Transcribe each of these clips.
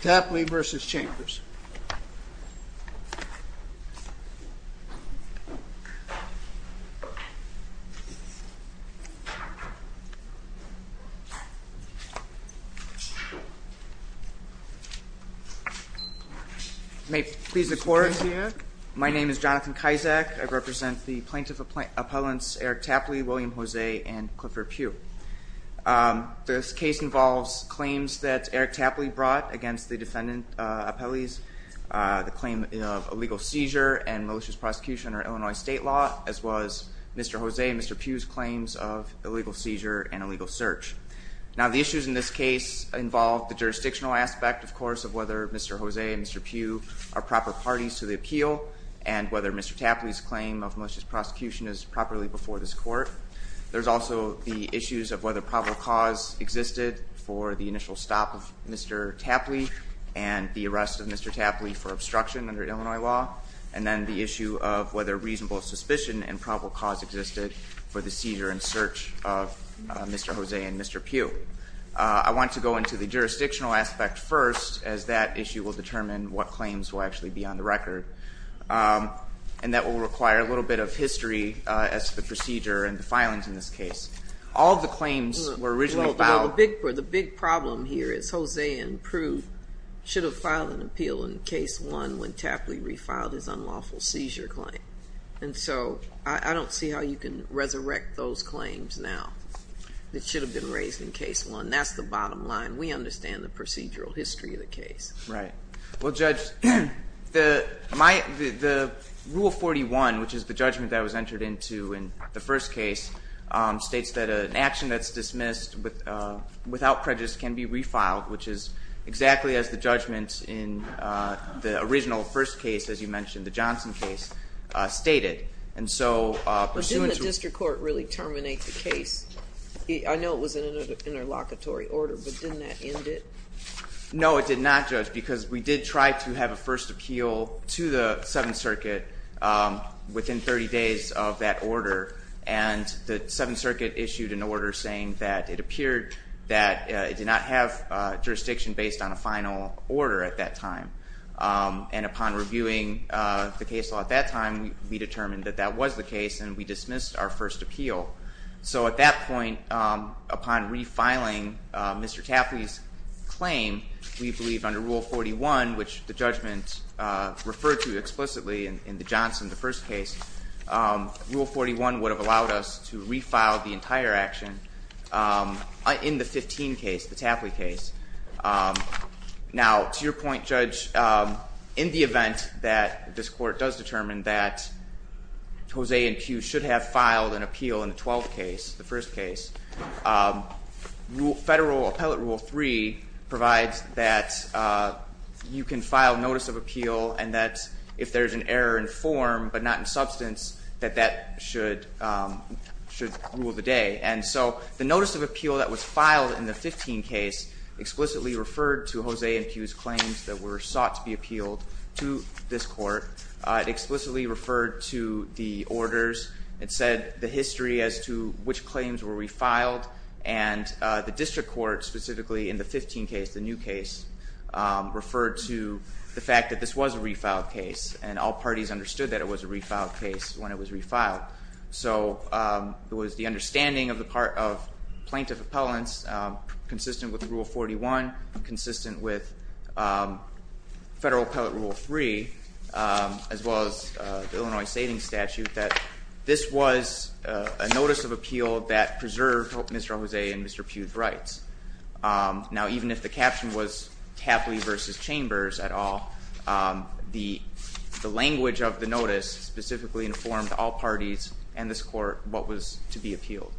Tapley v. Chambers May it please the court. My name is Jonathan Kaizak. I represent the plaintiff appellants Eric Tapley, William Jose and Clifford Pugh. This case involves claims that Eric Tapley brought against the defendant appellees. The claim of illegal seizure and malicious prosecution are Illinois state law as was Mr. Jose and Mr. Pugh's claims of illegal seizure and illegal search. Now the issues in this case involve the jurisdictional aspect of course of whether Mr. Jose and Mr. Pugh are proper parties to the appeal and whether Mr. Tapley's claim of malicious prosecution is properly before this court. There's also the issues of whether probable cause existed for the initial stop of Mr. Tapley and the arrest of Mr. Tapley for obstruction under Illinois law and then the issue of whether reasonable suspicion and probable cause existed for the seizure and search of Mr. Jose and Mr. Pugh. I want to go into the jurisdictional aspect first as that issue will determine what claims will actually be on the record and that will require a little bit of history as the procedure and the filings in this case. All the claims were originally filed. The big problem here is Jose and Pugh should have filed an appeal in case one when Tapley refiled his unlawful seizure claim and so I don't see how you can resurrect those claims now that should have been raised in case one. That's the bottom line. We understand the procedural history of the case. Right. Well Judge, the rule 41 which is the judgment that was entered into in the first case states that an action that's dismissed without prejudice can be refiled which is exactly as the judgment in the original first case as you mentioned, the Johnson case, stated. But didn't the district court really terminate the case? I know it was in an interlocutory order but didn't that end it? No it did not Judge because we did try to have a first appeal to the Seventh Circuit within 30 days of that order and the Seventh Circuit issued an order saying that it appeared that it did not have jurisdiction based on a final order at that time and upon reviewing the case law at that time we determined that that was the case and we dismissed our first appeal. So at that point upon refiling Mr. Tapley's claim we believe under rule 41 which the judgment referred to in the first case, rule 41 would have allowed us to refile the entire action in the 15 case, the Tapley case. Now to your point Judge, in the event that this court does determine that Jose and Pugh should have filed an appeal in the 12th case, the first case, Federal Appellate Rule 3 provides that you can file notice of appeal and that if there's an error in form but not in substance that that should rule the day. And so the notice of appeal that was filed in the 15 case explicitly referred to Jose and Pugh's claims that were sought to be appealed to this court. It explicitly referred to the orders. It said the history as to which claims were refiled and the district court specifically in the 15 case, the new case, referred to the fact that this was a refiled case and all parties understood that it was a refiled case when it was refiled. So it was the understanding of the part of plaintiff appellants consistent with rule 41, consistent with Federal Appellate Rule 3, as well as the Illinois Savings Statute that this was a notice of appeal that preserved Mr. Jose and Mr. Pugh's rights. Now even if the caption was Tapley versus Chambers at all, the language of the notice specifically informed all parties and this court what was to be appealed.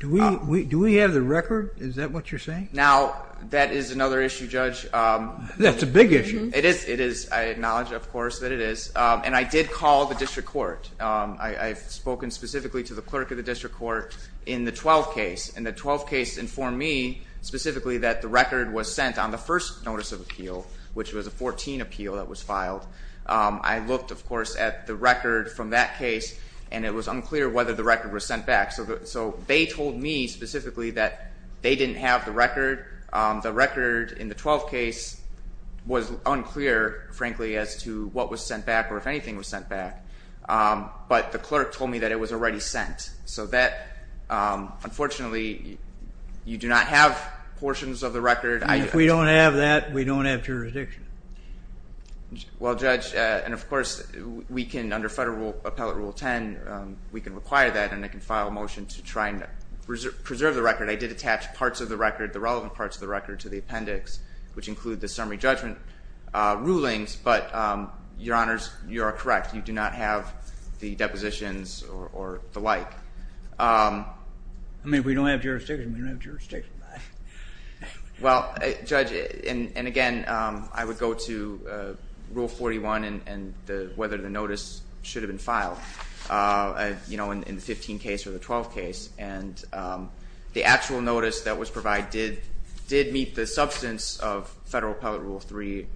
Do we have the record? Is that what you're saying? Now that is another issue, Judge. That's a big issue. It is, it is. I acknowledge, of course, that it is and I did call the district court. I've spoken specifically to the clerk of the district court in the 12 case and the 12 case informed me specifically that the record was sent on the first notice of appeal, which was a 14 appeal that was filed. I looked, of course, at the record from that case and it was unclear whether the record was sent back. So they told me specifically that they didn't have the record. The record in the 12 case was unclear, frankly, as to what was sent back or if anything was sent back. But the clerk told me that it was already sent. So that, unfortunately, you do not have portions of the record. If we don't have that, we don't have jurisdiction. Well, Judge, and of course, we can, under federal appellate rule 10, we can require that and I can file a motion to try and preserve the record. I did attach parts of the record, the relevant parts of the record, to the appendix, which include the summary judgment rulings. But, Your Honors, you are correct. You do not have the depositions or the like. I mean, if we don't have jurisdiction, we don't have jurisdiction. Well, Judge, and again, I would go to rule 41 and whether the notice should have been filed, you know, in the 15 case or the 12 case. And the actual notice that was provided did meet the substance of federal appellate rule 3,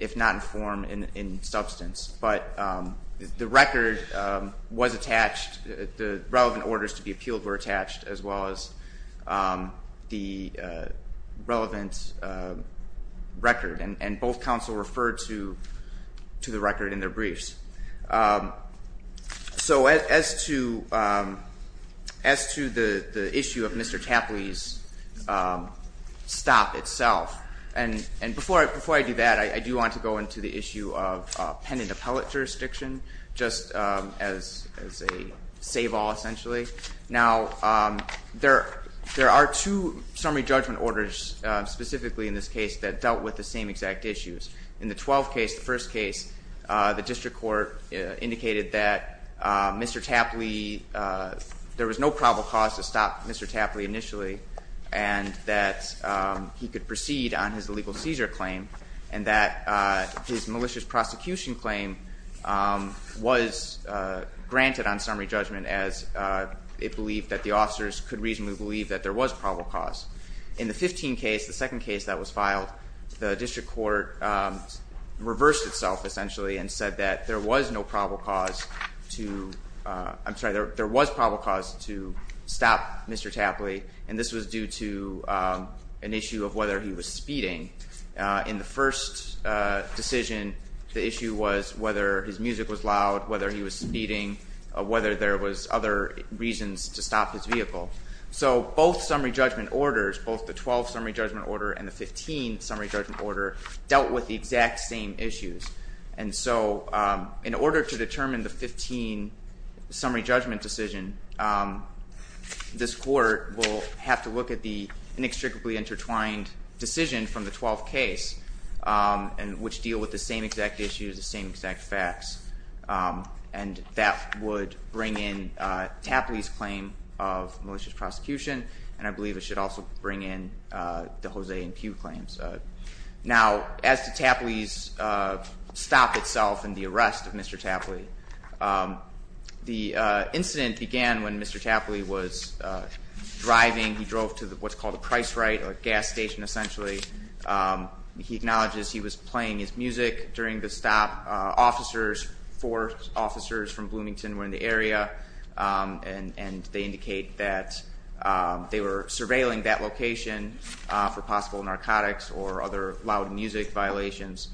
if not informed in substance. But the record was attached, the relevant orders to be appealed were attached, as well as the relevant record. And both counsel referred to the record in their briefs. So as to the issue of Mr. Tapley's stop itself, and before I do that, I do want to go into the issue of pen and appellate jurisdiction, just as a save all, essentially. Now, there are two summary judgment orders, specifically in this case, that dealt with the same exact issues. In the 12 case, the first case, the district court indicated that Mr. Tapley, there was no probable cause to stop Mr. Tapley initially, and that he could proceed on his illegal seizure claim, and that his malicious prosecution claim was granted on summary judgment, as it believed that the officers could reasonably believe that there was probable cause. In the 15 case, the second case that was filed, the district court reversed itself, essentially, and said that there was no probable cause to, I'm sorry, there was probable cause to stop Mr. Tapley, and this was due to an issue of whether he was speeding. In the first decision, the issue was whether his music was loud, whether he was speeding, whether there was other reasons to stop his vehicle. So both summary judgment orders, both the 12 summary judgment order and the 15 summary judgment order, dealt with the exact same issues. And so, in order to determine the 15 summary judgment decision, this court will have to look at the inextricably intertwined decision from the 12th case, and which deal with the same exact issues, the same exact facts, and that would bring in Tapley's claim of malicious prosecution, and I believe it should also bring in the Jose and Pew claims. Now, as to Tapley's stop itself and the arrest of Mr. Tapley, the incident began when Mr. Tapley was driving, he drove to what's called a price right, a gas station essentially. He acknowledges he was playing his music during the stop. Officers, four officers from Bloomington were in the area, and they indicate that they were surveilling that location for possible narcotics or other loud music violations.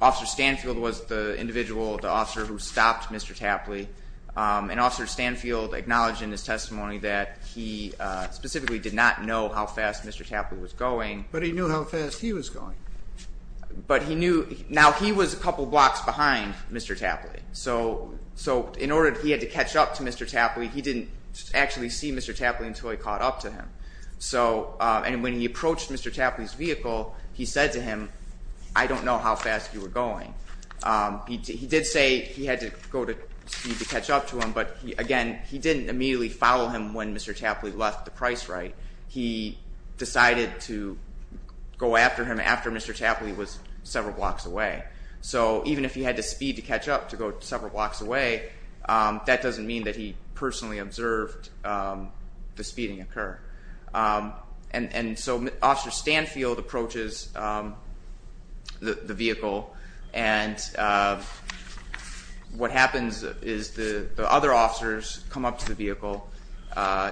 Officer Stanfield was the individual, the officer who stopped Mr. Tapley, and Officer Stanfield acknowledged in his testimony that he specifically did not know how fast Mr. Tapley was going. But he knew how fast he was going. But he knew, now he was a couple blocks behind Mr. Tapley, so in order he had to catch up to Mr. Tapley, he didn't actually see Mr. Tapley until he caught up to him. And when he approached Mr. Tapley's vehicle, he said to him, I don't know how fast you were going. He did say he had to go to speed to catch up to him, but again, he didn't immediately follow him when Mr. Tapley left the price right. He decided to go after him after Mr. Tapley was several blocks away. So even if he had to speed to catch up to go several blocks away, that doesn't mean that he personally observed the speeding occur. And so Officer Stanfield approaches the vehicle, and what happens is the other officers come up to the vehicle.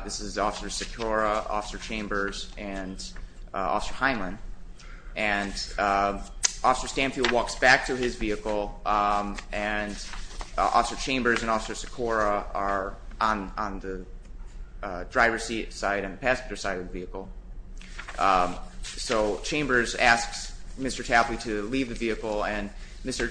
This is Officer Secora, Officer Chambers, and Officer Heinlein. And Officer Stanfield walks back to his vehicle, and Officer Chambers and Officer Tapley are on the driver's seat side and passenger side of the vehicle. So Chambers asks Mr. Tapley to leave the vehicle, and Mr.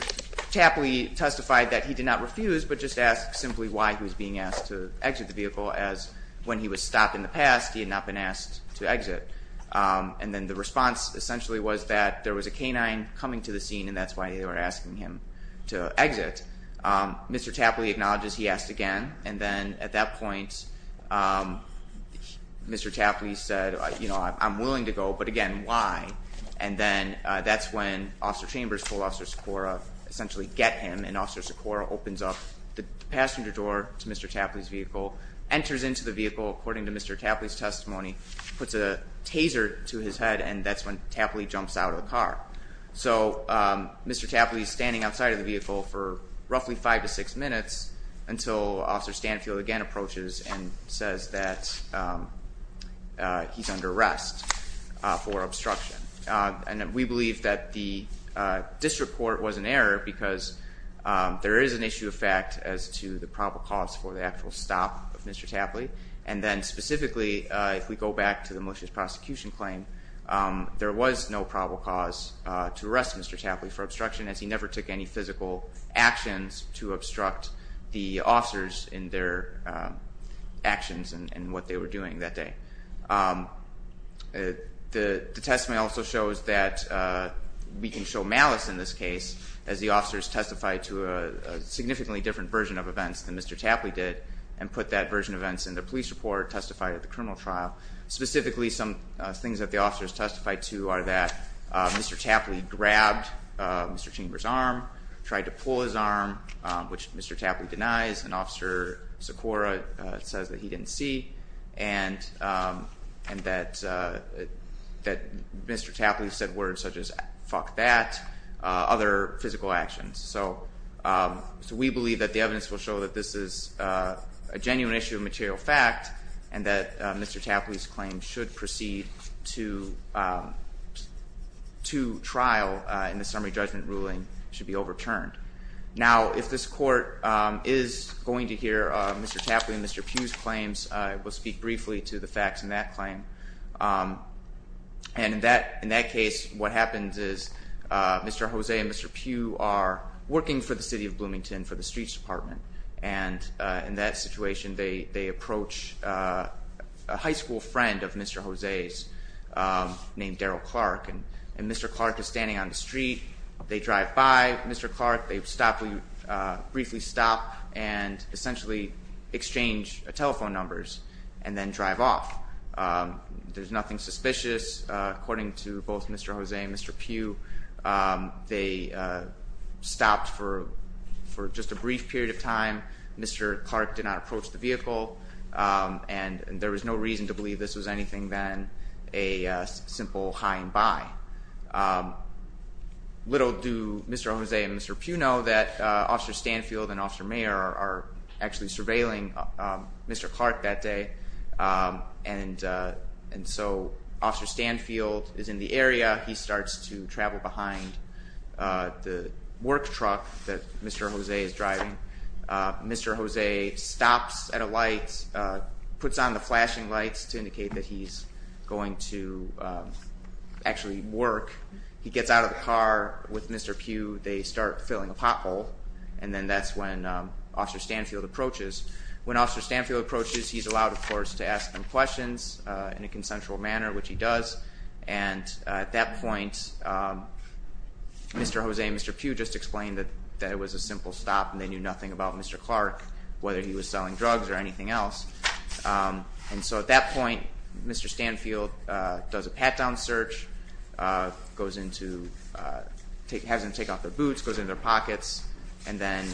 Tapley testified that he did not refuse, but just asked simply why he was being asked to exit the vehicle, as when he was stopped in the past, he had not been asked to exit. And then the response essentially was that there was a canine coming to the scene, and that's why they were asking him to exit. Mr. Tapley acknowledges he asked again, and then at that point Mr. Tapley said, you know, I'm willing to go, but again, why? And then that's when Officer Chambers told Officer Secora essentially get him, and Officer Secora opens up the passenger door to Mr. Tapley's vehicle, enters into the vehicle according to Mr. Tapley's testimony, puts a taser to his head, and that's when Tapley jumps out of the car. So Mr. Tapley's standing outside of the vehicle for roughly five to six minutes until Officer Stanfield again approaches and says that he's under arrest for obstruction. And we believe that the district court was an error because there is an issue of fact as to the probable cause for the actual stop of Mr. Tapley, and then specifically if we go back to the malicious prosecution claim, there was no probable cause to arrest Mr. Tapley for obstruction as he never took any physical actions to obstruct the officers in their actions and what they were doing that day. The testimony also shows that we can show malice in this case as the officers testified to a significantly different version of events than Mr. Tapley did, and put that version of events in the things that the officers testified to are that Mr. Tapley grabbed Mr. Chamber's arm, tried to pull his arm, which Mr. Tapley denies, and Officer Sikora says that he didn't see, and that Mr. Tapley said words such as fuck that, other physical actions. So we believe that the evidence will show that this is a genuine issue of material fact and that Mr. Tapley's claim should proceed to trial in the summary judgment ruling should be overturned. Now if this court is going to hear Mr. Tapley and Mr. Pugh's claims, I will speak briefly to the facts in that claim, and in that case what happens is Mr. Jose and Mr. Pugh are working for the city of Bloomington for the streets department, and in that situation they approach a high school friend of Mr. Jose's named Daryl Clark, and Mr. Clark is standing on the street. They drive by Mr. Clark. They briefly stop and essentially exchange telephone numbers, and then drive off. There's nothing suspicious according to both Mr. Jose and Mr. Pugh. They stopped for just a brief period of time. Mr. Clark did not approach the vehicle, and there was no reason to believe this was anything than a simple hi and bye. Little do Mr. Jose and Mr. Pugh know that Officer Stanfield and Officer Mayer are actually surveilling Mr. Clark that day, and so Officer Stanfield is in the area. He starts to travel behind the work truck that Mr. Jose is driving. Mr. Jose stops at a light, puts on the flashing lights to indicate that he's going to actually work. He gets out of the car with Mr. Pugh. They start filling a pothole, and then that's when Officer Stanfield approaches. When Officer Stanfield approaches, he's allowed, of course, to ask them questions in a consensual manner, which he does, and at that point Mr. Jose and Mr. Pugh just explained that it was a simple stop and they knew nothing about Mr. Clark, whether he was selling drugs or anything else, and so at that point Mr. Stanfield does a pat-down search, has them take off their boots, goes in their pockets, and then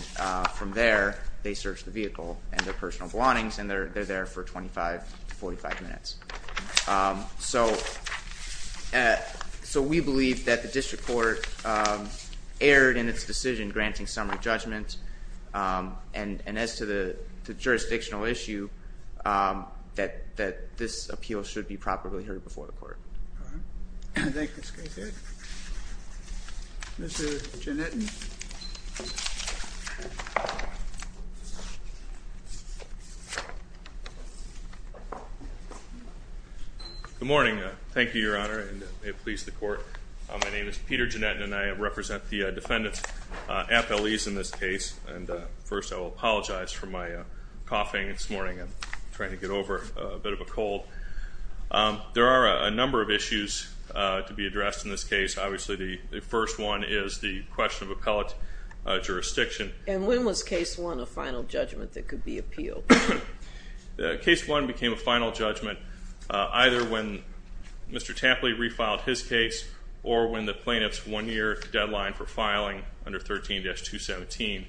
from there they search the vehicle and their personal belongings, and they're there for 25 to 45 minutes. So we believe that the District Court erred in its decision granting summary judgment, and as to the jurisdictional issue, that this appeal should be properly heard before the court. Good morning. Thank you, Your Honor, and may it please the Court. My name is Peter Appelees in this case, and first I will apologize for my coughing this morning. I'm trying to get over a bit of a cold. There are a number of issues to be addressed in this case. Obviously the first one is the question of appellate jurisdiction. And when was case one a final judgment that could be appealed? Case one became a final judgment either when Mr. Tampley refiled his case or when the plaintiff's one-year deadline for filing under 13-217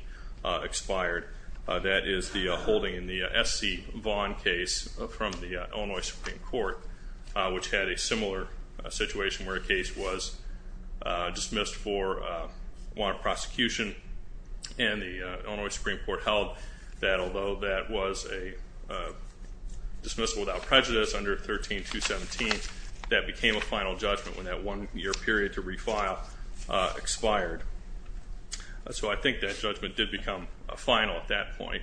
expired. That is the holding in the S.C. Vaughan case from the Illinois Supreme Court, which had a similar situation where a case was dismissed for wanted prosecution, and the Illinois Supreme Court held that although that was a dismissal without prejudice under 13-217, that became a final judgment when that one-year period to refile expired. So I think that judgment did become a final at that point,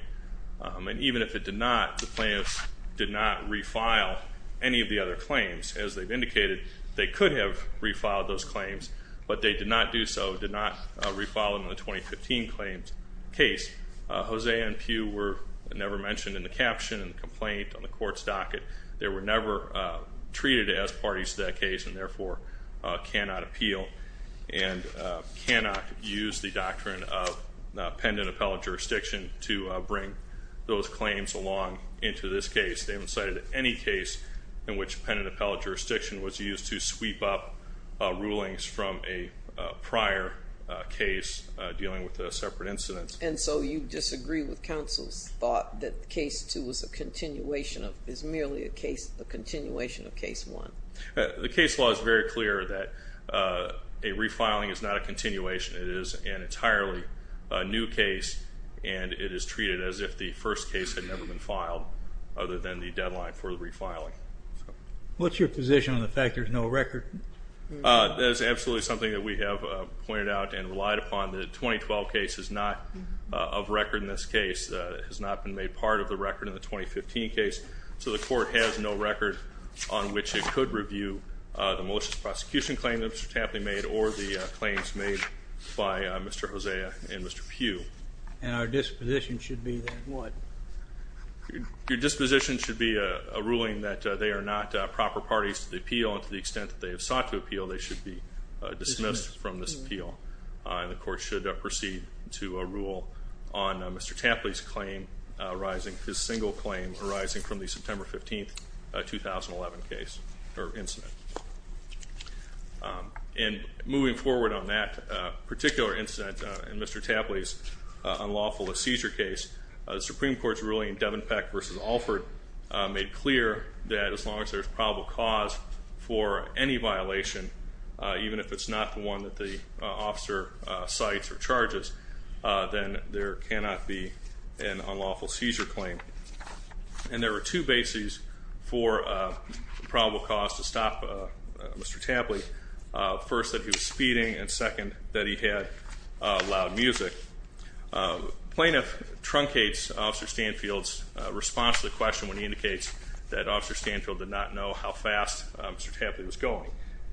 and even if it did not, the plaintiff did not refile any of the other claims. As they've indicated, they could have refiled those claims, but they did not do so, did not refile them in the 2015 claims case. Hosea and Pugh were never mentioned in the caption and the complaint on the court's docket. They were never treated as parties to that case and therefore cannot appeal and cannot use the doctrine of pen and appellate jurisdiction to bring those claims along into this case. They haven't cited any case in which pen and appellate jurisdiction was used to sweep up rulings from a prior case dealing with a separate incident. And so you disagree with counsel's thought that case two was a continuation of, is merely a case, a continuation of case one. The case law is very clear that a refiling is not a continuation. It is an entirely new case and it is treated as if the first case had never been filed other than the deadline for the refiling. What's your position on the fact there's no record? That is absolutely something that we have pointed out and relied upon. The 2012 case is not of record in this case, has not been made part of the record in the 2015 case, so the court has no record on which it could review the malicious prosecution claim that Mr. Tapley made or the claims made by Mr. Hosea and Mr. Pugh. And our disposition should be that what? Your disposition should be a ruling that they are not proper parties to the appeal and to the extent that they have sought to appeal they should be dismissed from this appeal. The court should proceed to a rule on Mr. Tapley's claim arising, his single claim arising from the September 15, 2011 case or incident. And moving forward on that particular incident in Mr. Tapley's unlawful seizure case, the Supreme Court's ruling in Devenpeck v. Alford made clear that as long as there's probable cause for any violation, even if it's not the one that the officer cites or charges, then there cannot be an unlawful seizure claim. And there were two bases for probable cause to stop Mr. Tapley. First that he was speeding and second that he had loud music. Plaintiff truncates Officer Stanfield's response to the question when he indicates that Officer Stanfield did not know how fast Mr. Tapley was going.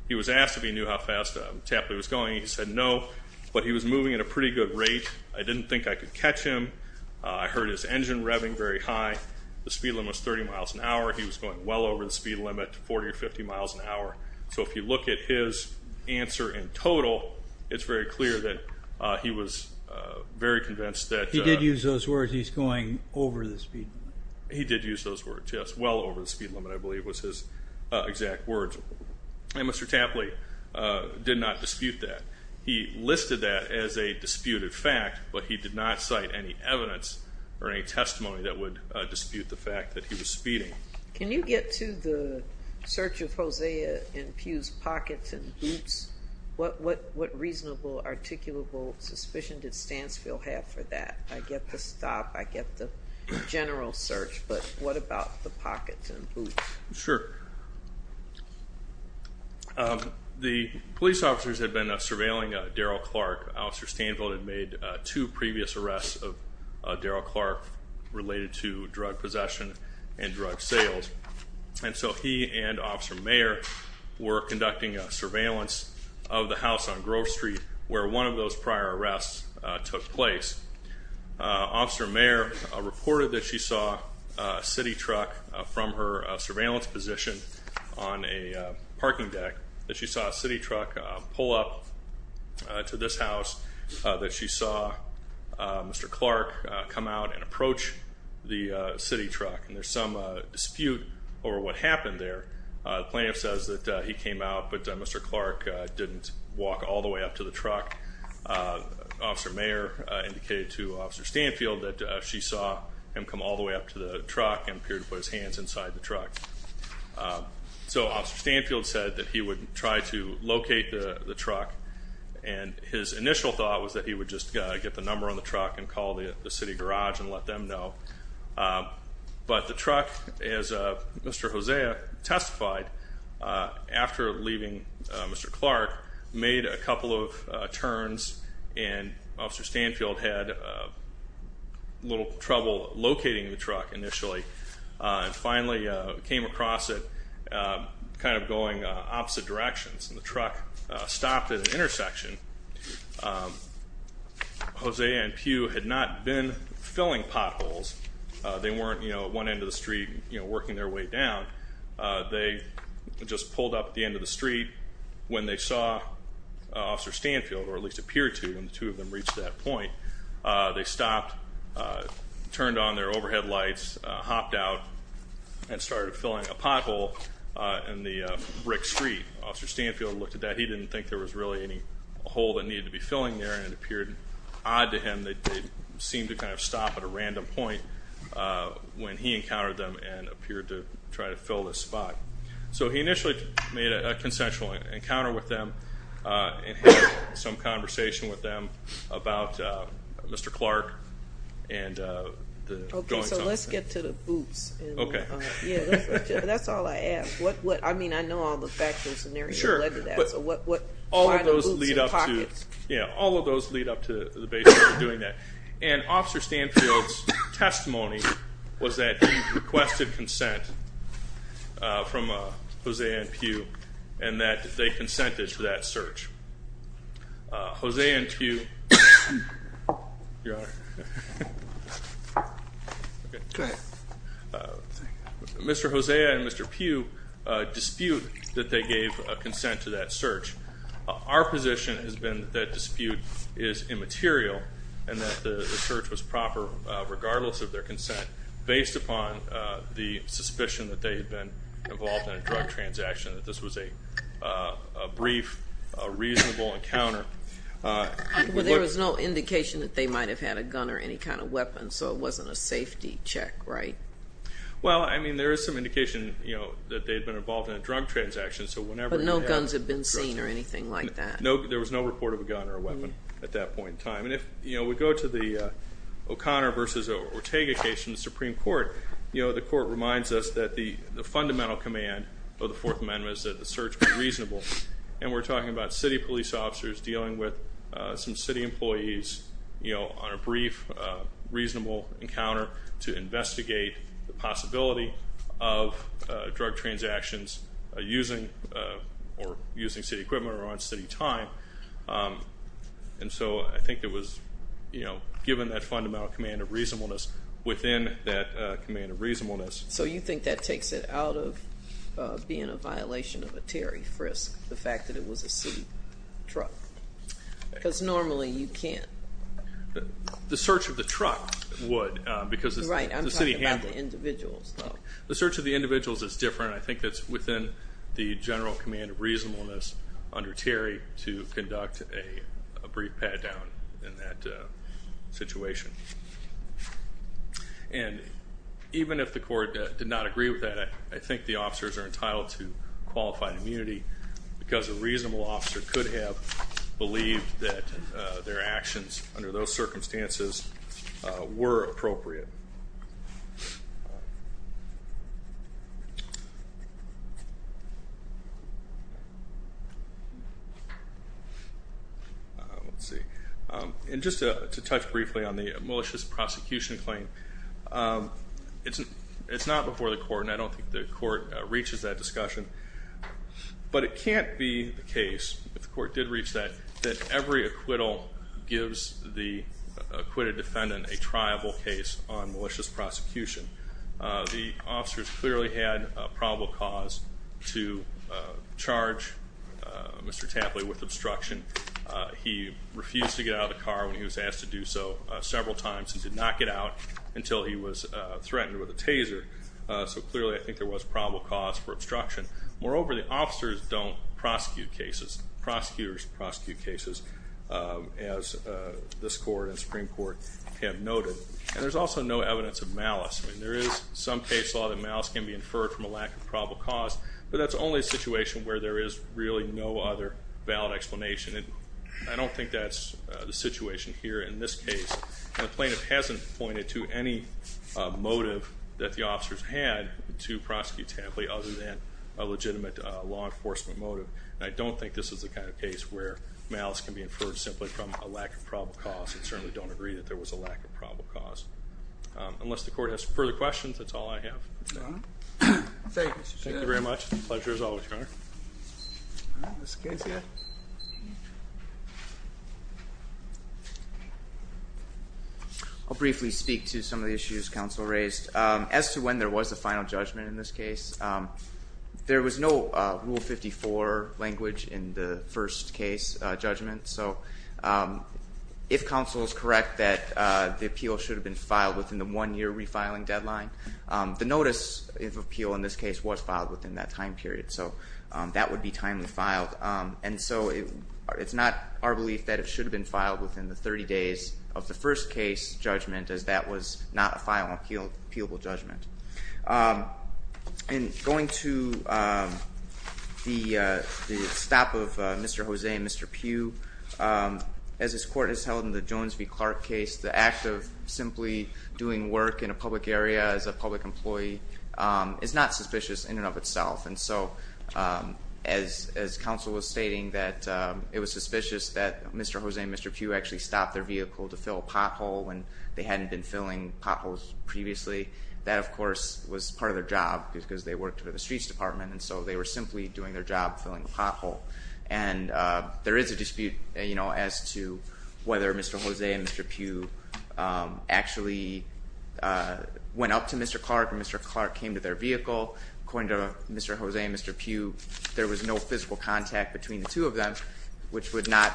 He was asked if he knew how fast Tapley was going. He said no, but he was moving at a pretty good rate. I didn't think I could catch him. I heard his engine revving very high. The speed limit was 30 miles an hour. He was going well over the speed limit, 40 or 50 miles an hour. So if you look at his answer in total, it's very clear that he was very convinced that. He did use those words. Yes, well over the speed limit, I believe, was his exact words. And Mr. Tapley did not dispute that. He listed that as a disputed fact, but he did not cite any evidence or any testimony that would dispute the fact that he was speeding. Can you get to the search of Hosea and Pugh's pockets and boots? What reasonable, articulable suspicion did Stanfield have for that? I get the stop, I get the general search, but what about the pockets and boots? Sure. The police officers had been surveilling Darrell Clark. Officer Stanfield had made two previous arrests of Darrell Clark related to drug possession and drug sales. And so he and Officer Mayer were conducting a surveillance of the arrests took place. Officer Mayer reported that she saw a city truck from her surveillance position on a parking deck, that she saw a city truck pull up to this house, that she saw Mr. Clark come out and approach the city truck. And there's some dispute over what happened there. Plaintiff says that he came out, but Mr. Clark didn't walk all the way up to the truck. Officer Mayer indicated to Officer Stanfield that she saw him come all the way up to the truck and appeared to put his hands inside the truck. So Officer Stanfield said that he would try to locate the truck. And his initial thought was that he would just get the number on the truck and call the city garage and let them know. But the leaving Mr. Clark made a couple of turns and Officer Stanfield had a little trouble locating the truck initially. And finally came across it kind of going opposite directions. And the truck stopped at an intersection. Jose and Pew had not been filling potholes. They weren't, you know, one end of the street, you know, working their way down. They just pulled up at the end of the street. When they saw Officer Stanfield, or at least appeared to, when the two of them reached that point, they stopped, turned on their overhead lights, hopped out, and started filling a pothole in the brick street. Officer Stanfield looked at that. He didn't think there was really any hole that needed to be filling there. And it appeared odd to him that they seemed to kind of stop at a random point when he encountered them and appeared to try to fill this spot. So he initially made a consensual encounter with them and had some conversation with them about Mr. Clark and the goings on. Okay, so let's get to the boots. Okay. Yeah, that's all I ask. What, I mean, I know all the factors and everything led to that. Sure, but all of those lead up to the base doing that. And Officer Stanfield's testimony was that he requested consent from Hosea and Pugh, and that they consented to that search. Hosea and Pugh... Your Honor. Go ahead. Mr. Hosea and Mr. Pugh dispute that they gave a material and that the search was proper, regardless of their consent, based upon the suspicion that they had been involved in a drug transaction, that this was a brief, reasonable encounter. There was no indication that they might have had a gun or any kind of weapon, so it wasn't a safety check, right? Well, I mean, there is some indication, you know, that they'd been involved in a drug transaction, so whenever... But no guns had been seen or anything like that? No, there was no report of a gun or a weapon at that point in time. And if, you know, we go to the O'Connor versus Ortega case in the Supreme Court, you know, the court reminds us that the fundamental command of the Fourth Amendment is that the search be reasonable. And we're talking about city police officers dealing with some city employees, you know, on a brief, reasonable encounter to investigate the possibility of drug transactions using, or using city equipment or on city time, and so I think it was, you know, given that fundamental command of reasonableness within that command of reasonableness. So you think that takes it out of being a violation of a Terry frisk, the fact that it was a city truck? Because normally you can't. The search of the truck would, because... Right, I'm talking about the individuals. The search of the individuals is different. I think that's within the jurisdiction of the court to conduct a brief pat-down in that situation. And even if the court did not agree with that, I think the officers are entitled to qualified immunity because a reasonable officer could have believed that their actions under those circumstances were appropriate. Let's see. And just to touch briefly on the malicious prosecution claim, it's not before the court, and I don't think the court reaches that discussion, but it can't be the case, if the court did reach that, that every acquittal gives the acquitted defendant a triable case on malicious prosecution. The officers clearly had probable cause to charge Mr. Tapley with obstruction. He refused to get out of the car when he was asked to do so several times and did not get out until he was threatened with a taser. So clearly I think there was probable cause for obstruction. Moreover, the officers don't prosecute cases. Prosecutors prosecute cases, as this court and Supreme Court have noted. And there's also no evidence of malice. There is some case law that malice can be inferred from a lack of probable cause, but that's only a situation where there is really no other valid explanation. And I don't think that's the situation here in this case. The plaintiff hasn't pointed to any motive that the officers had to prosecute Tapley other than a legitimate law enforcement motive. I don't think this is the kind of case where malice can be inferred simply from a lack of probable cause. Unless the court has further questions, that's all I have. Thank you very much. Pleasure as always, Your Honor. I'll briefly speak to some of the issues counsel raised. As to when there was a final judgment in this case, there was no Rule 54 language in the first case judgment. So if counsel is correct that the appeal should have been filed within the one-year refiling deadline, the notice of appeal in this case was filed within that time period. So that would be timely filed. And so it's not our belief that it should have been filed within the 30 days of the first case judgment, as that was not a final appealable judgment. And going to the stop of Mr. Jose and Mr. Pugh, as this court has held in the Jones v. Clark case, the act of simply doing work in a public area as a public employee is not suspicious in and of itself. And so as counsel was stating that it was suspicious that Mr. Jose and Mr. Pugh actually stopped their vehicle to fill a pothole when they hadn't been filling potholes previously, that of course was part of their job because they worked for the Streets Department and so they were simply doing their job filling a pothole. And there is a dispute, you know, as to whether Mr. Jose and Mr. Pugh actually went up to Mr. Clark or Mr. Clark came to their vehicle. According to Mr. Jose and Mr. Pugh, there was no physical contact between the two of them, which would not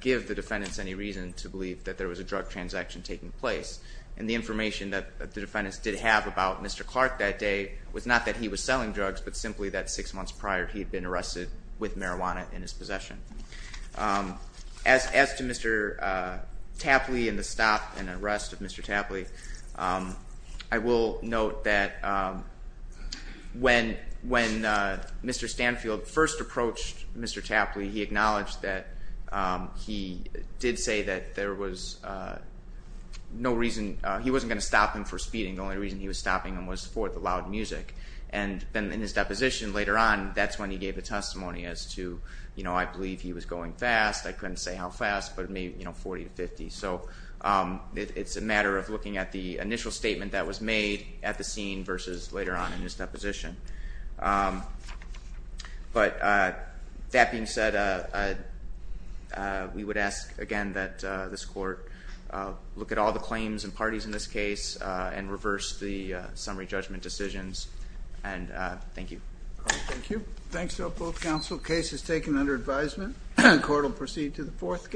give the defendants any reason to believe that there was a drug transaction taking place. And the information that the defendants did have about Mr. Clark that day was not that he was selling drugs, but simply that six months prior he had been arrested with marijuana in his possession. As to Mr. Tapley and the stop and arrest of Mr. Tapley, I will note that when Mr. Stanfield first approached Mr. Tapley, he acknowledged that he did say that there was no reason, he wasn't going to stop him for speeding, the only reason he was stopping him was for the loud music. And then in his deposition later on, that's when he gave a testimony as to, you know, I believe he was going fast, I couldn't say how fast, but maybe, you know, 40 to 50. So it's a matter of looking at the initial statement that was made at the scene versus later on in his deposition. But that being said, we would ask again that this Court look at all the claims and parties in this case and reverse the case. Thank you. Thank you. Thanks to both counsel. Case is taken under advisement. Court will proceed to the fourth case.